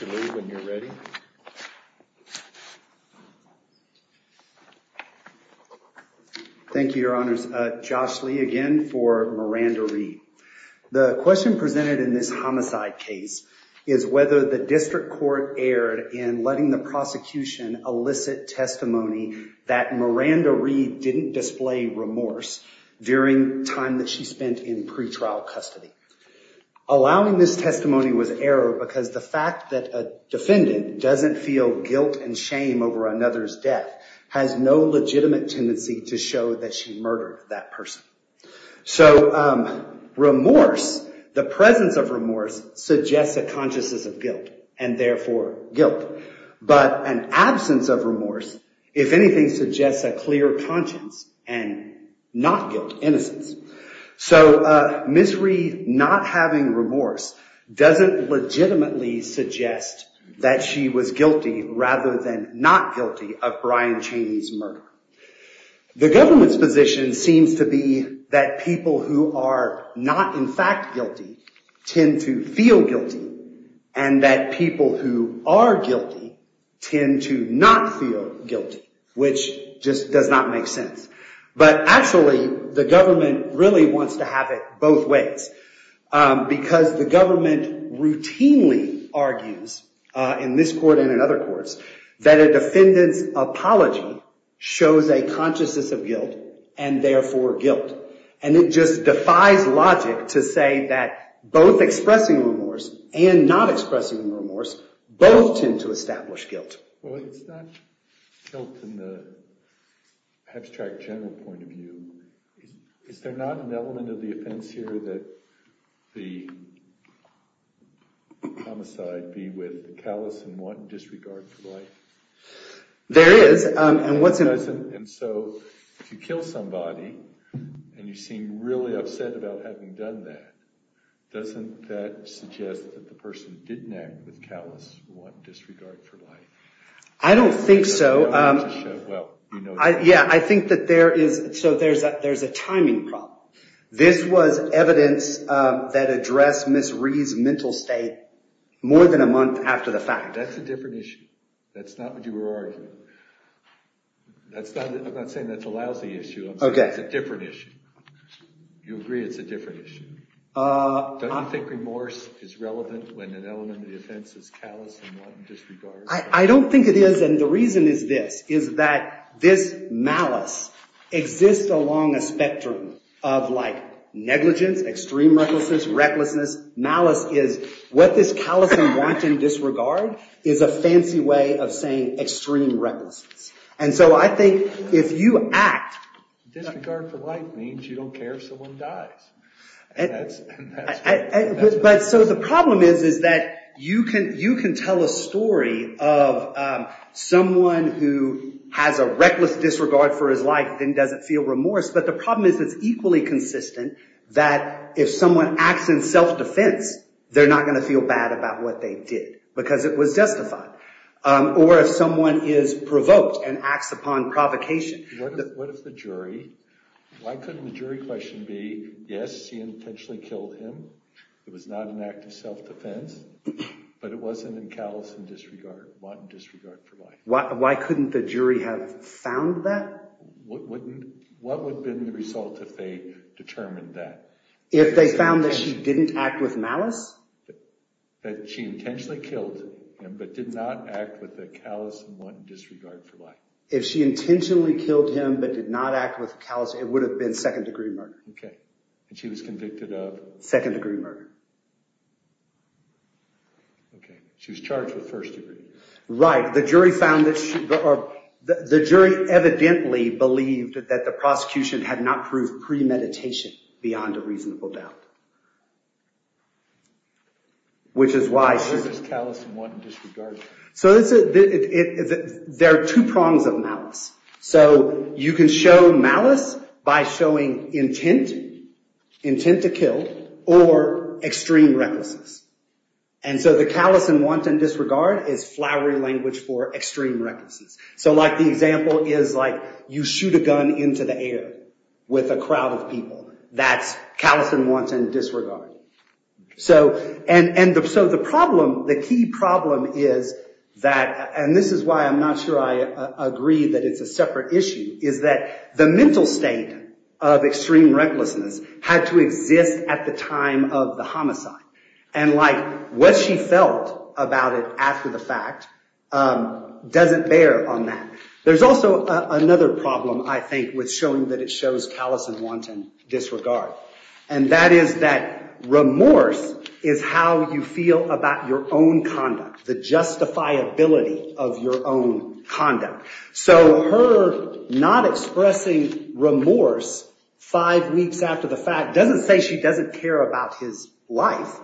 When you're ready. The question presented in this homicide case is whether the district court erred in letting the prosecution elicit testimony that Miranda Reed didn't display remorse during time that she spent in pretrial custody, allowing this testimony was error because the fact that a defendant doesn't feel guilt and shame over another's death has no legitimate tendency to show that she murdered. So remorse, the presence of remorse suggests a consciousness of guilt and therefore guilt. But an absence of remorse, if anything, suggests a clear conscience and not guilt, innocence. So Ms. Reed not having remorse doesn't legitimately suggest that she was guilty rather than not guilty of Brian Chaney's murder. The government's position seems to be that people who are not in fact guilty tend to feel guilty and that people who are guilty tend to not feel guilty, which just does not make sense. But actually, the government really wants to have it both ways because the government routinely argues in this court and in other courts that a defendant's apology shows a consciousness of guilt and therefore guilt. And it just defies logic to say that both expressing remorse and not expressing remorse both tend to establish guilt. Well, it's not guilt in the abstract general point of view. Is there not an element of the offense here that the homicide be with callous and want and disregard for life? I don't think so. Yeah, I think that there is – so there's a timing problem. This was evidence that addressed Ms. Reed's mental state more than a month after the fact. That's a different issue. That's not what you were arguing. I'm not saying that's a lousy issue. It's a different issue. You agree it's a different issue. Don't you think remorse is relevant when an element of the offense is callous and want and disregard? I don't think it is, and the reason is this, is that this malice exists along a spectrum of negligence, extreme recklessness. Malice is what this callous and wanton disregard is a fancy way of saying extreme recklessness. And so I think if you act – Disregard for life means you don't care if someone dies. But so the problem is that you can tell a story of someone who has a reckless disregard for his life and doesn't feel remorse, but the problem is it's equally consistent that if someone acts in self-defense, they're not going to feel bad about what they did because it was justified. Or if someone is provoked and acts upon provocation. What if the jury – why couldn't the jury question be, yes, she intentionally killed him. It was not an act of self-defense, but it wasn't a callous and wanton disregard for life? Why couldn't the jury have found that? What would have been the result if they determined that? If they found that she didn't act with malice? That she intentionally killed him but did not act with a callous and wanton disregard for life. If she intentionally killed him but did not act with callous, it would have been second-degree murder. Okay. And she was convicted of? Second-degree murder. Okay. She was charged with first-degree. Right. The jury found that she – or the jury evidently believed that the prosecution had not proved premeditation beyond a reasonable doubt, which is why she – Why isn't this callous and wanton disregard? So there are two prongs of malice. So you can show malice by showing intent, intent to kill, or extreme recklessness. And so the callous and wanton disregard is flowery language for extreme recklessness. So like the example is like you shoot a gun into the air with a crowd of people. That's callous and wanton disregard. So the problem, the key problem is that – and this is why I'm not sure I agree that it's a separate issue – is that the mental state of extreme recklessness had to exist at the time of the homicide. And like what she felt about it after the fact doesn't bear on that. There's also another problem, I think, with showing that it shows callous and wanton disregard. And that is that remorse is how you feel about your own conduct, the justifiability of your own conduct. So her not expressing remorse five weeks after the fact doesn't say she doesn't care about his life.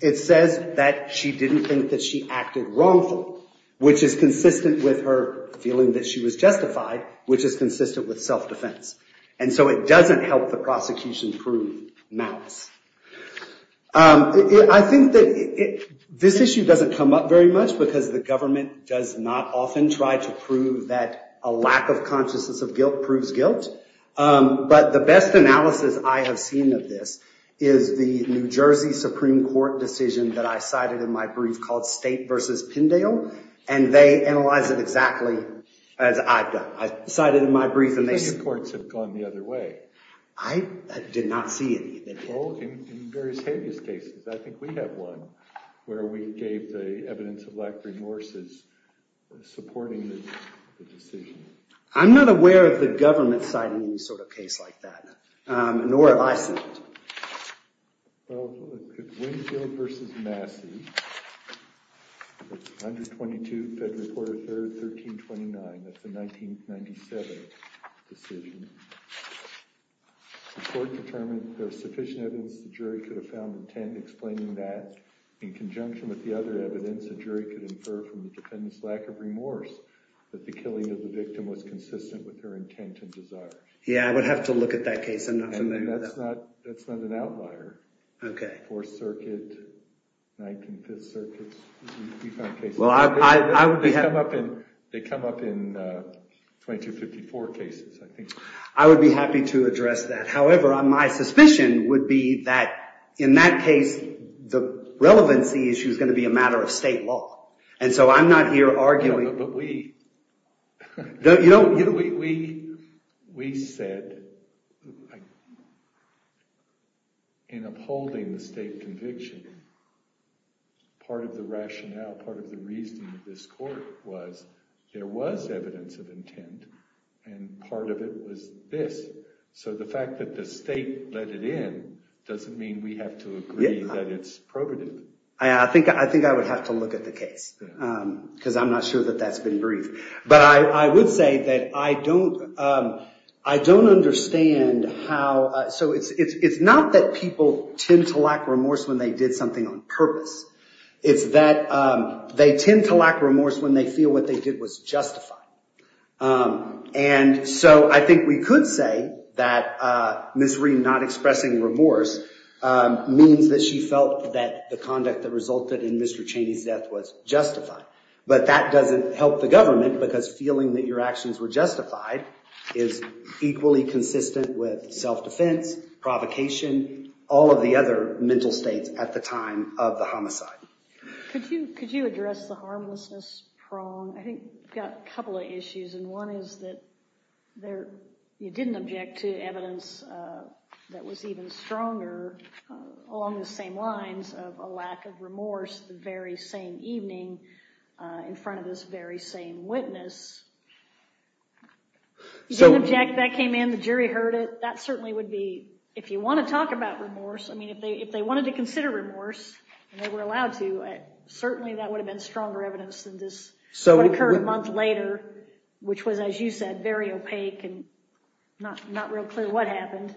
It says that she didn't think that she acted wrongfully, which is consistent with her feeling that she was justified, which is consistent with self-defense. And so it doesn't help the prosecution prove malice. I think that this issue doesn't come up very much because the government does not often try to prove that a lack of consciousness of guilt proves guilt. But the best analysis I have seen of this is the New Jersey Supreme Court decision that I cited in my brief called State v. Pindale. And they analyze it exactly as I've done. I think the courts have gone the other way. I did not see it either. Oh, in various habeas cases. I think we have one where we gave the evidence of lack of remorse as supporting the decision. I'm not aware of the government citing any sort of case like that, nor have I seen it. Well, Winfield v. Massey, 122, Federal Court of Third, 1329, that's the 1997 decision. The court determined there was sufficient evidence the jury could have found intent explaining that. In conjunction with the other evidence, a jury could infer from the defendant's lack of remorse that the killing of the victim was consistent with her intent and desire. Yeah, I would have to look at that case. I'm not familiar with that. I mean, that's not an outlier. Fourth Circuit, Nineteenth Circuit, we find cases like that. They come up in 2254 cases, I think. I would be happy to address that. However, my suspicion would be that in that case, the relevancy issue is going to be a matter of state law. And so I'm not here arguing. But we said in upholding the state conviction, part of the rationale, part of the reason of this court was there was evidence of intent, and part of it was this. So the fact that the state let it in doesn't mean we have to agree that it's probative. I think I would have to look at the case because I'm not sure that that's been briefed. But I would say that I don't understand how – so it's not that people tend to lack remorse when they did something on purpose. It's that they tend to lack remorse when they feel what they did was justified. And so I think we could say that Ms. Ream not expressing remorse means that she felt that the conduct that resulted in Mr. Cheney's death was justified. But that doesn't help the government because feeling that your actions were justified is equally consistent with self-defense, provocation, all of the other mental states at the time of the homicide. Could you address the harmlessness prong? I think we've got a couple of issues. And one is that you didn't object to evidence that was even stronger along the same lines of a lack of remorse the very same evening in front of this very same witness. You didn't object, that came in, the jury heard it. But that certainly would be – if you want to talk about remorse, I mean if they wanted to consider remorse and they were allowed to, certainly that would have been stronger evidence than this. So it occurred a month later which was, as you said, very opaque and not real clear what happened.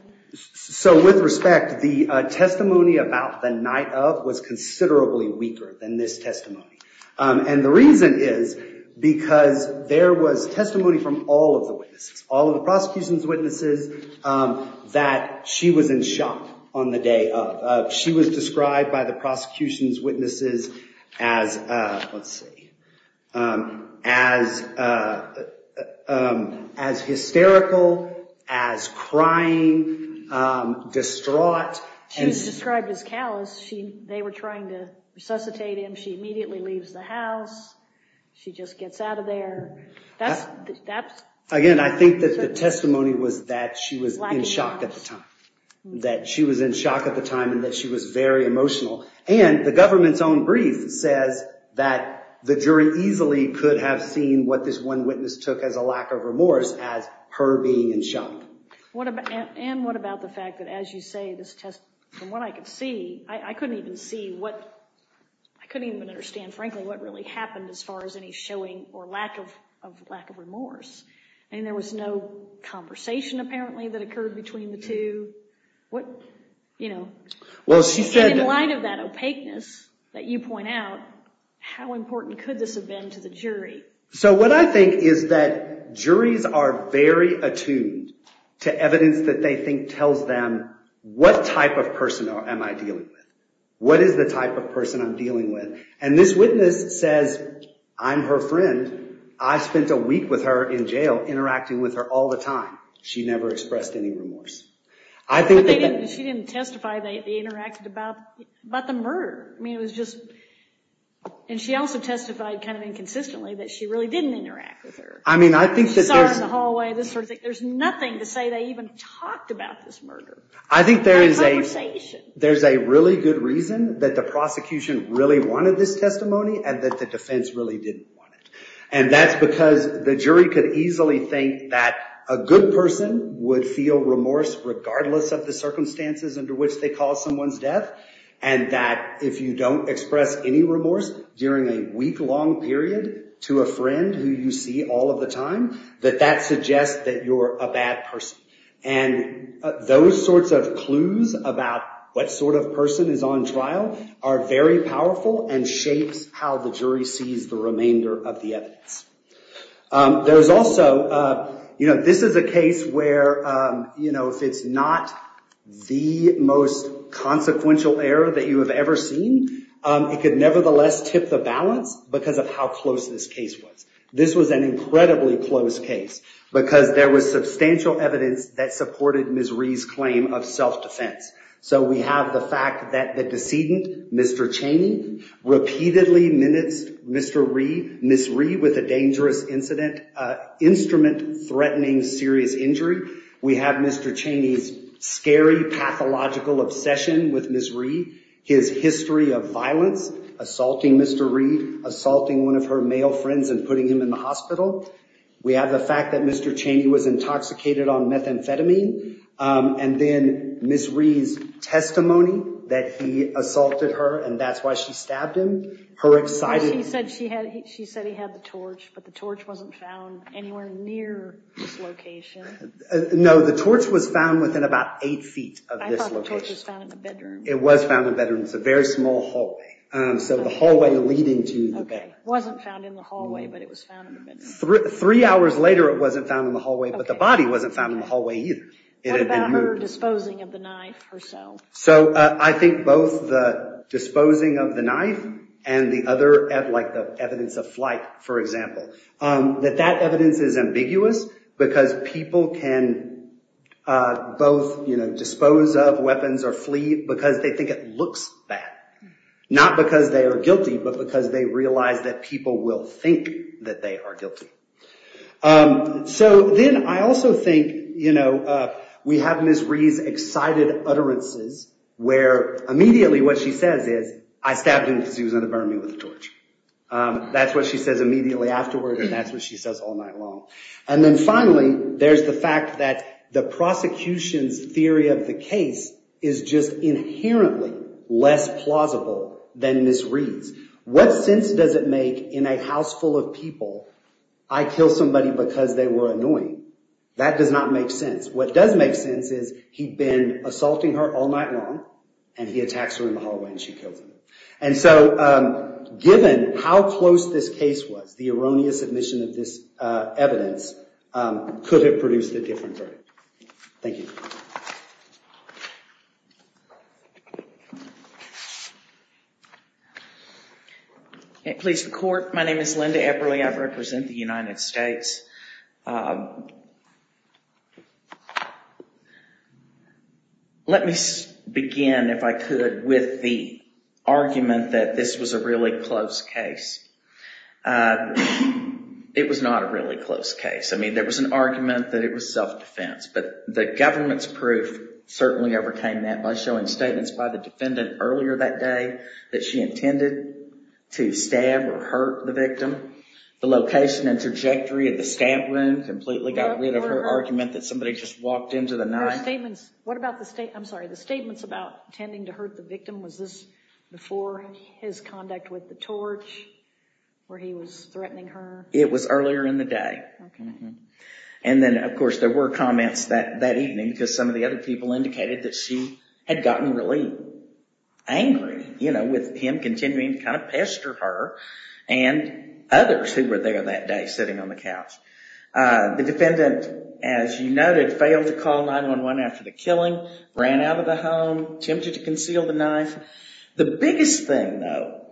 So with respect, the testimony about the night of was considerably weaker than this testimony. And the reason is because there was testimony from all of the witnesses, all of the prosecution's witnesses, that she was in shock on the day of. She was described by the prosecution's witnesses as, let's see, as hysterical, as crying, distraught. She was described as callous. They were trying to resuscitate him. She immediately leaves the house. She just gets out of there. Again, I think that the testimony was that she was in shock at the time, that she was in shock at the time and that she was very emotional. And the government's own brief says that the jury easily could have seen what this one witness took as a lack of remorse as her being in shock. And what about the fact that, as you say, this test, from what I could see, I couldn't even see what, I couldn't even understand, frankly, what really happened as far as any showing or lack of remorse. And there was no conversation apparently that occurred between the two. In light of that opaqueness that you point out, how important could this have been to the jury? So what I think is that juries are very attuned to evidence that they think tells them what type of person am I dealing with, what is the type of person I'm dealing with. And this witness says, I'm her friend. I spent a week with her in jail interacting with her all the time. She never expressed any remorse. But she didn't testify that they interacted about the murder. I mean, it was just, and she also testified kind of inconsistently that she really didn't interact with her. I mean, I think that there's... She saw her in the hallway, this sort of thing. There's nothing to say they even talked about this murder. I think there is a... Not a conversation. There's a really good reason that the prosecution really wanted this testimony and that the defense really didn't want it. And that's because the jury could easily think that a good person would feel remorse regardless of the circumstances under which they caused someone's death. And that if you don't express any remorse during a week-long period to a friend who you see all of the time, that that suggests that you're a bad person. And those sorts of clues about what sort of person is on trial are very powerful and shapes how the jury sees the remainder of the evidence. There's also, you know, this is a case where, you know, if it's not the most consequential error that you have ever seen, it could nevertheless tip the balance because of how close this case was. This was an incredibly close case because there was substantial evidence that supported Ms. Rhee's claim of self-defense. So we have the fact that the decedent, Mr. Chaney, repeatedly menaced Ms. Rhee with a dangerous incident, an instrument threatening serious injury. We have Mr. Chaney's scary pathological obsession with Ms. Rhee, his history of violence, assaulting Mr. Rhee, assaulting one of her male friends and putting him in the hospital. We have the fact that Mr. Chaney was intoxicated on methamphetamine. And then Ms. Rhee's testimony that he assaulted her and that's why she stabbed him. She said he had the torch, but the torch wasn't found anywhere near this location. No, the torch was found within about eight feet of this location. I thought the torch was found in the bedroom. It was found in the bedroom. It's a very small hallway. So the hallway leading to the bedroom. Okay. It wasn't found in the hallway, but it was found in the bedroom. Three hours later, it wasn't found in the hallway, but the body wasn't found in the hallway either. What about her disposing of the knife herself? So I think both the disposing of the knife and the other evidence of flight, for example, that that evidence is ambiguous because people can both dispose of weapons or flee because they think it looks bad. Not because they are guilty, but because they realize that people will think that they are guilty. So then I also think we have Ms. Rhee's excited utterances where immediately what she says is, I stabbed him because he was going to burn me with the torch. That's what she says immediately afterward and that's what she says all night long. And then finally, there's the fact that the prosecution's theory of the case is just inherently less plausible than Ms. Rhee's. What sense does it make in a house full of people, I killed somebody because they were annoying? That does not make sense. What does make sense is he'd been assaulting her all night long and he attacks her in the hallway and she kills him. And so given how close this case was, the erroneous admission of this evidence could have produced a different verdict. Thank you. Please, the court. My name is Linda Epperle. I represent the United States. Let me begin, if I could, with the argument that this was a really close case. It was not a really close case. I mean, there was an argument that it was self-defense, but the government's proof certainly overcame that by showing statements by the defendant earlier that day that she intended. To stab or hurt the victim. The location and trajectory of the stab wound completely got rid of her argument that somebody just walked into the night. What about the statements, I'm sorry, the statements about intending to hurt the victim, was this before his conduct with the torch where he was threatening her? It was earlier in the day. And then, of course, there were comments that evening because some of the other people indicated that she had gotten really angry, you know, with him continuing to kind of pester her and others who were there that day sitting on the couch. The defendant, as you noted, failed to call 911 after the killing, ran out of the home, attempted to conceal the knife. The biggest thing, though,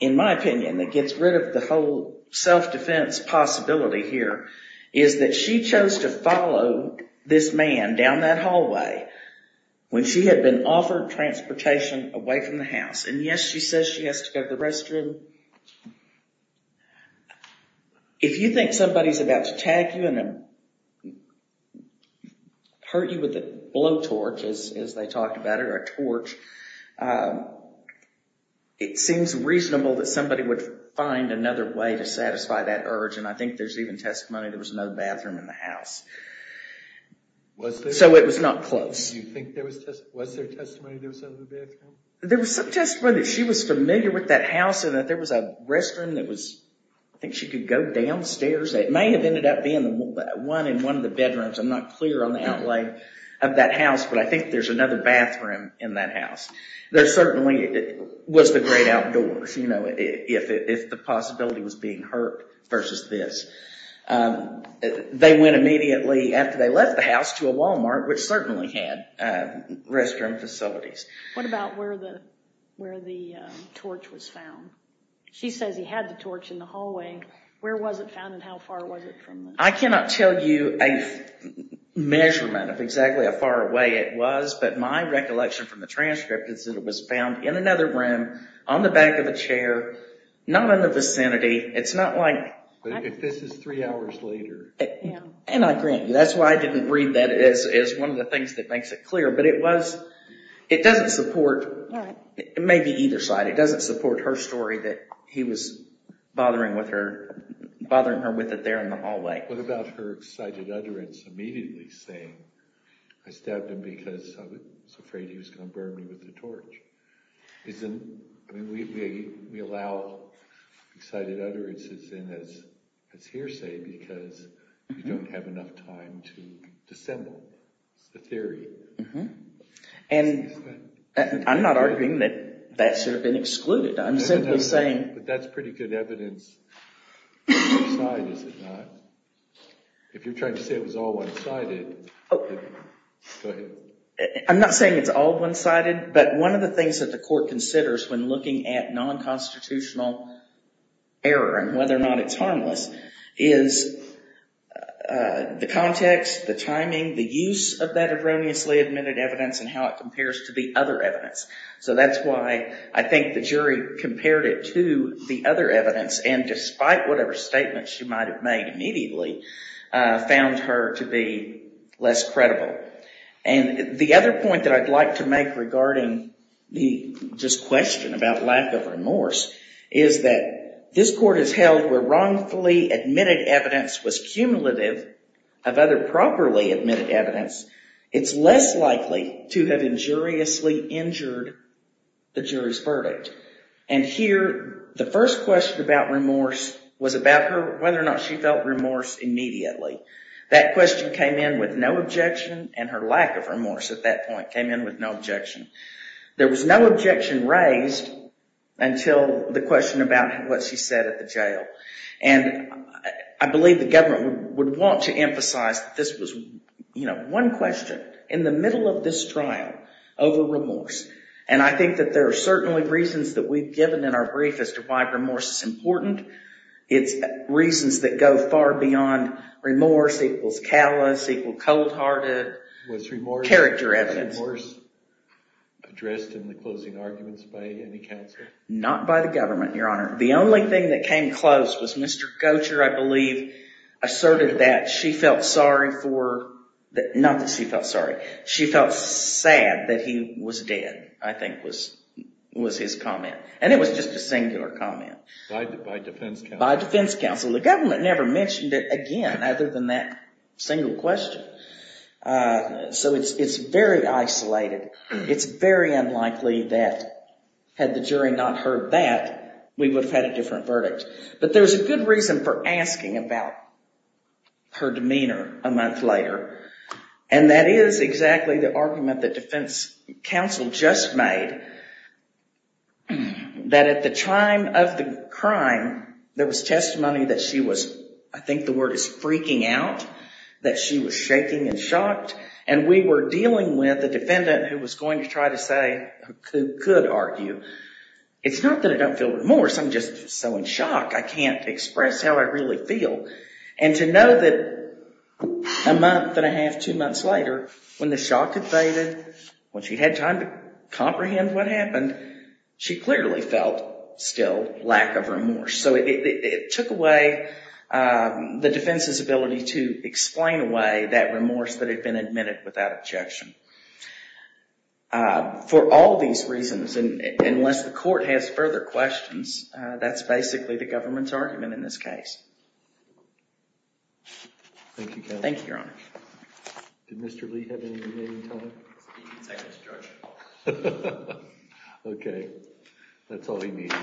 in my opinion, that gets rid of the whole self-defense possibility here is that she chose to follow this man down that hallway when she had been offered transportation away from the house. And yes, she says she has to go to the restroom. If you think somebody's about to tag you and hurt you with a blowtorch, as they talked about it, or a torch, it seems reasonable that somebody would find another way to satisfy that urge. And I think there's even testimony there was no bathroom in the house. Was there? So it was not close. Do you think there was testimony there was no bathroom? There was some testimony that she was familiar with that house and that there was a restroom that was, I think she could go downstairs. It may have ended up being one in one of the bedrooms. I'm not clear on the outlay of that house, but I think there's another bathroom in that house. There certainly was the great outdoors, you know, if the possibility was being hurt versus this. They went immediately after they left the house to a Walmart, which certainly had restroom facilities. What about where the torch was found? She says he had the torch in the hallway. Where was it found and how far was it from? I cannot tell you a measurement of exactly how far away it was, but my recollection from the transcript is that it was found in another room on the back of a chair, not in the vicinity. It's not like... If this is three hours later. And I grant you, that's why I didn't read that as one of the things that makes it clear, but it was... It doesn't support... It may be either side. It doesn't support her story that he was bothering her with it there in the hallway. What about her excited utterance immediately saying, I stabbed him because I was afraid he was going to burn me with the torch? I mean, we allow excited utterances in as hearsay because we don't have enough time to dissemble the theory. And I'm not arguing that that should have been excluded. I'm simply saying... But that's pretty good evidence. If you're trying to say it was all one-sided... I'm not saying it's all one-sided, but one of the things that the court considers when looking at non-constitutional error and whether or not it's harmless is the context, the timing, the use of that erroneously admitted evidence and how it compares to the other evidence. So that's why I think the jury compared it to the other evidence and despite whatever statement she might have made immediately, found her to be less credible. And the other point that I'd like to make regarding this question about lack of remorse is that this court has held where wrongfully admitted evidence was cumulative of other properly admitted evidence. It's less likely to have injuriously injured the jury's verdict. And here, the first question about remorse was about whether or not she felt remorse immediately. That question came in with no objection and her lack of remorse at that point came in with no objection. There was no objection raised until the question about what she said at the jail. And I believe the government would want to emphasize that this was one question in the middle of this trial over remorse. And I think that there are certainly reasons that we've given in our brief as to why remorse is important. It's reasons that go far beyond remorse equals callous, equals cold-hearted character evidence. Was remorse addressed in the closing arguments by any counsel? Not by the government, Your Honor. The only thing that came close was Mr. Gocher, I believe, asserted that she felt sorry for, not that she felt sorry, she felt sad that he was dead, I think was his comment. And it was just a singular comment. By defense counsel. By defense counsel. The government never mentioned it again other than that single question. So it's very isolated. It's very unlikely that had the jury not heard that, we would have had a different verdict. But there's a good reason for asking about her demeanor a month later. And that is exactly the argument that defense counsel just made. That at the time of the crime, there was testimony that she was, I think the word is freaking out. That she was shaking and shocked. And we were dealing with a defendant who was going to try to say, who could argue. It's not that I don't feel remorse, I'm just so in shock, I can't express how I really feel. And to know that a month and a half, two months later, when the shock had faded, when she had time to comprehend what happened, she clearly felt still lack of remorse. So it took away the defense's ability to explain away that remorse that had been admitted without objection. For all these reasons, unless the court has further questions, that's basically the government's argument in this case. Thank you, Counselor. Thank you, Your Honor. Did Mr. Lee have any remaining time? He's taking seconds, Judge. Okay, that's all he needs.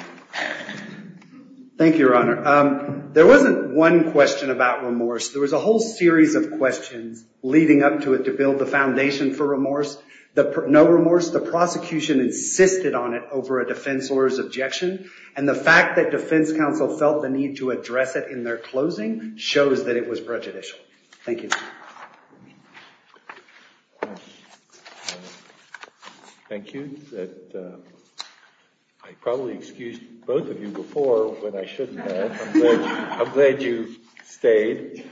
Thank you, Your Honor. There wasn't one question about remorse. There was a whole series of questions leading up to it to build the foundation for remorse. No remorse, the prosecution insisted on it over a defense lawyer's objection. And the fact that defense counsel felt the need to address it in their closing shows that it was prejudicial. Thank you. Thank you. I probably excused both of you before when I shouldn't have. I'm glad you stayed.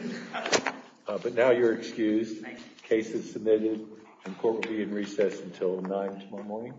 But now you're excused. The case is submitted. The court will be in recess until 9 tomorrow morning. Thank you.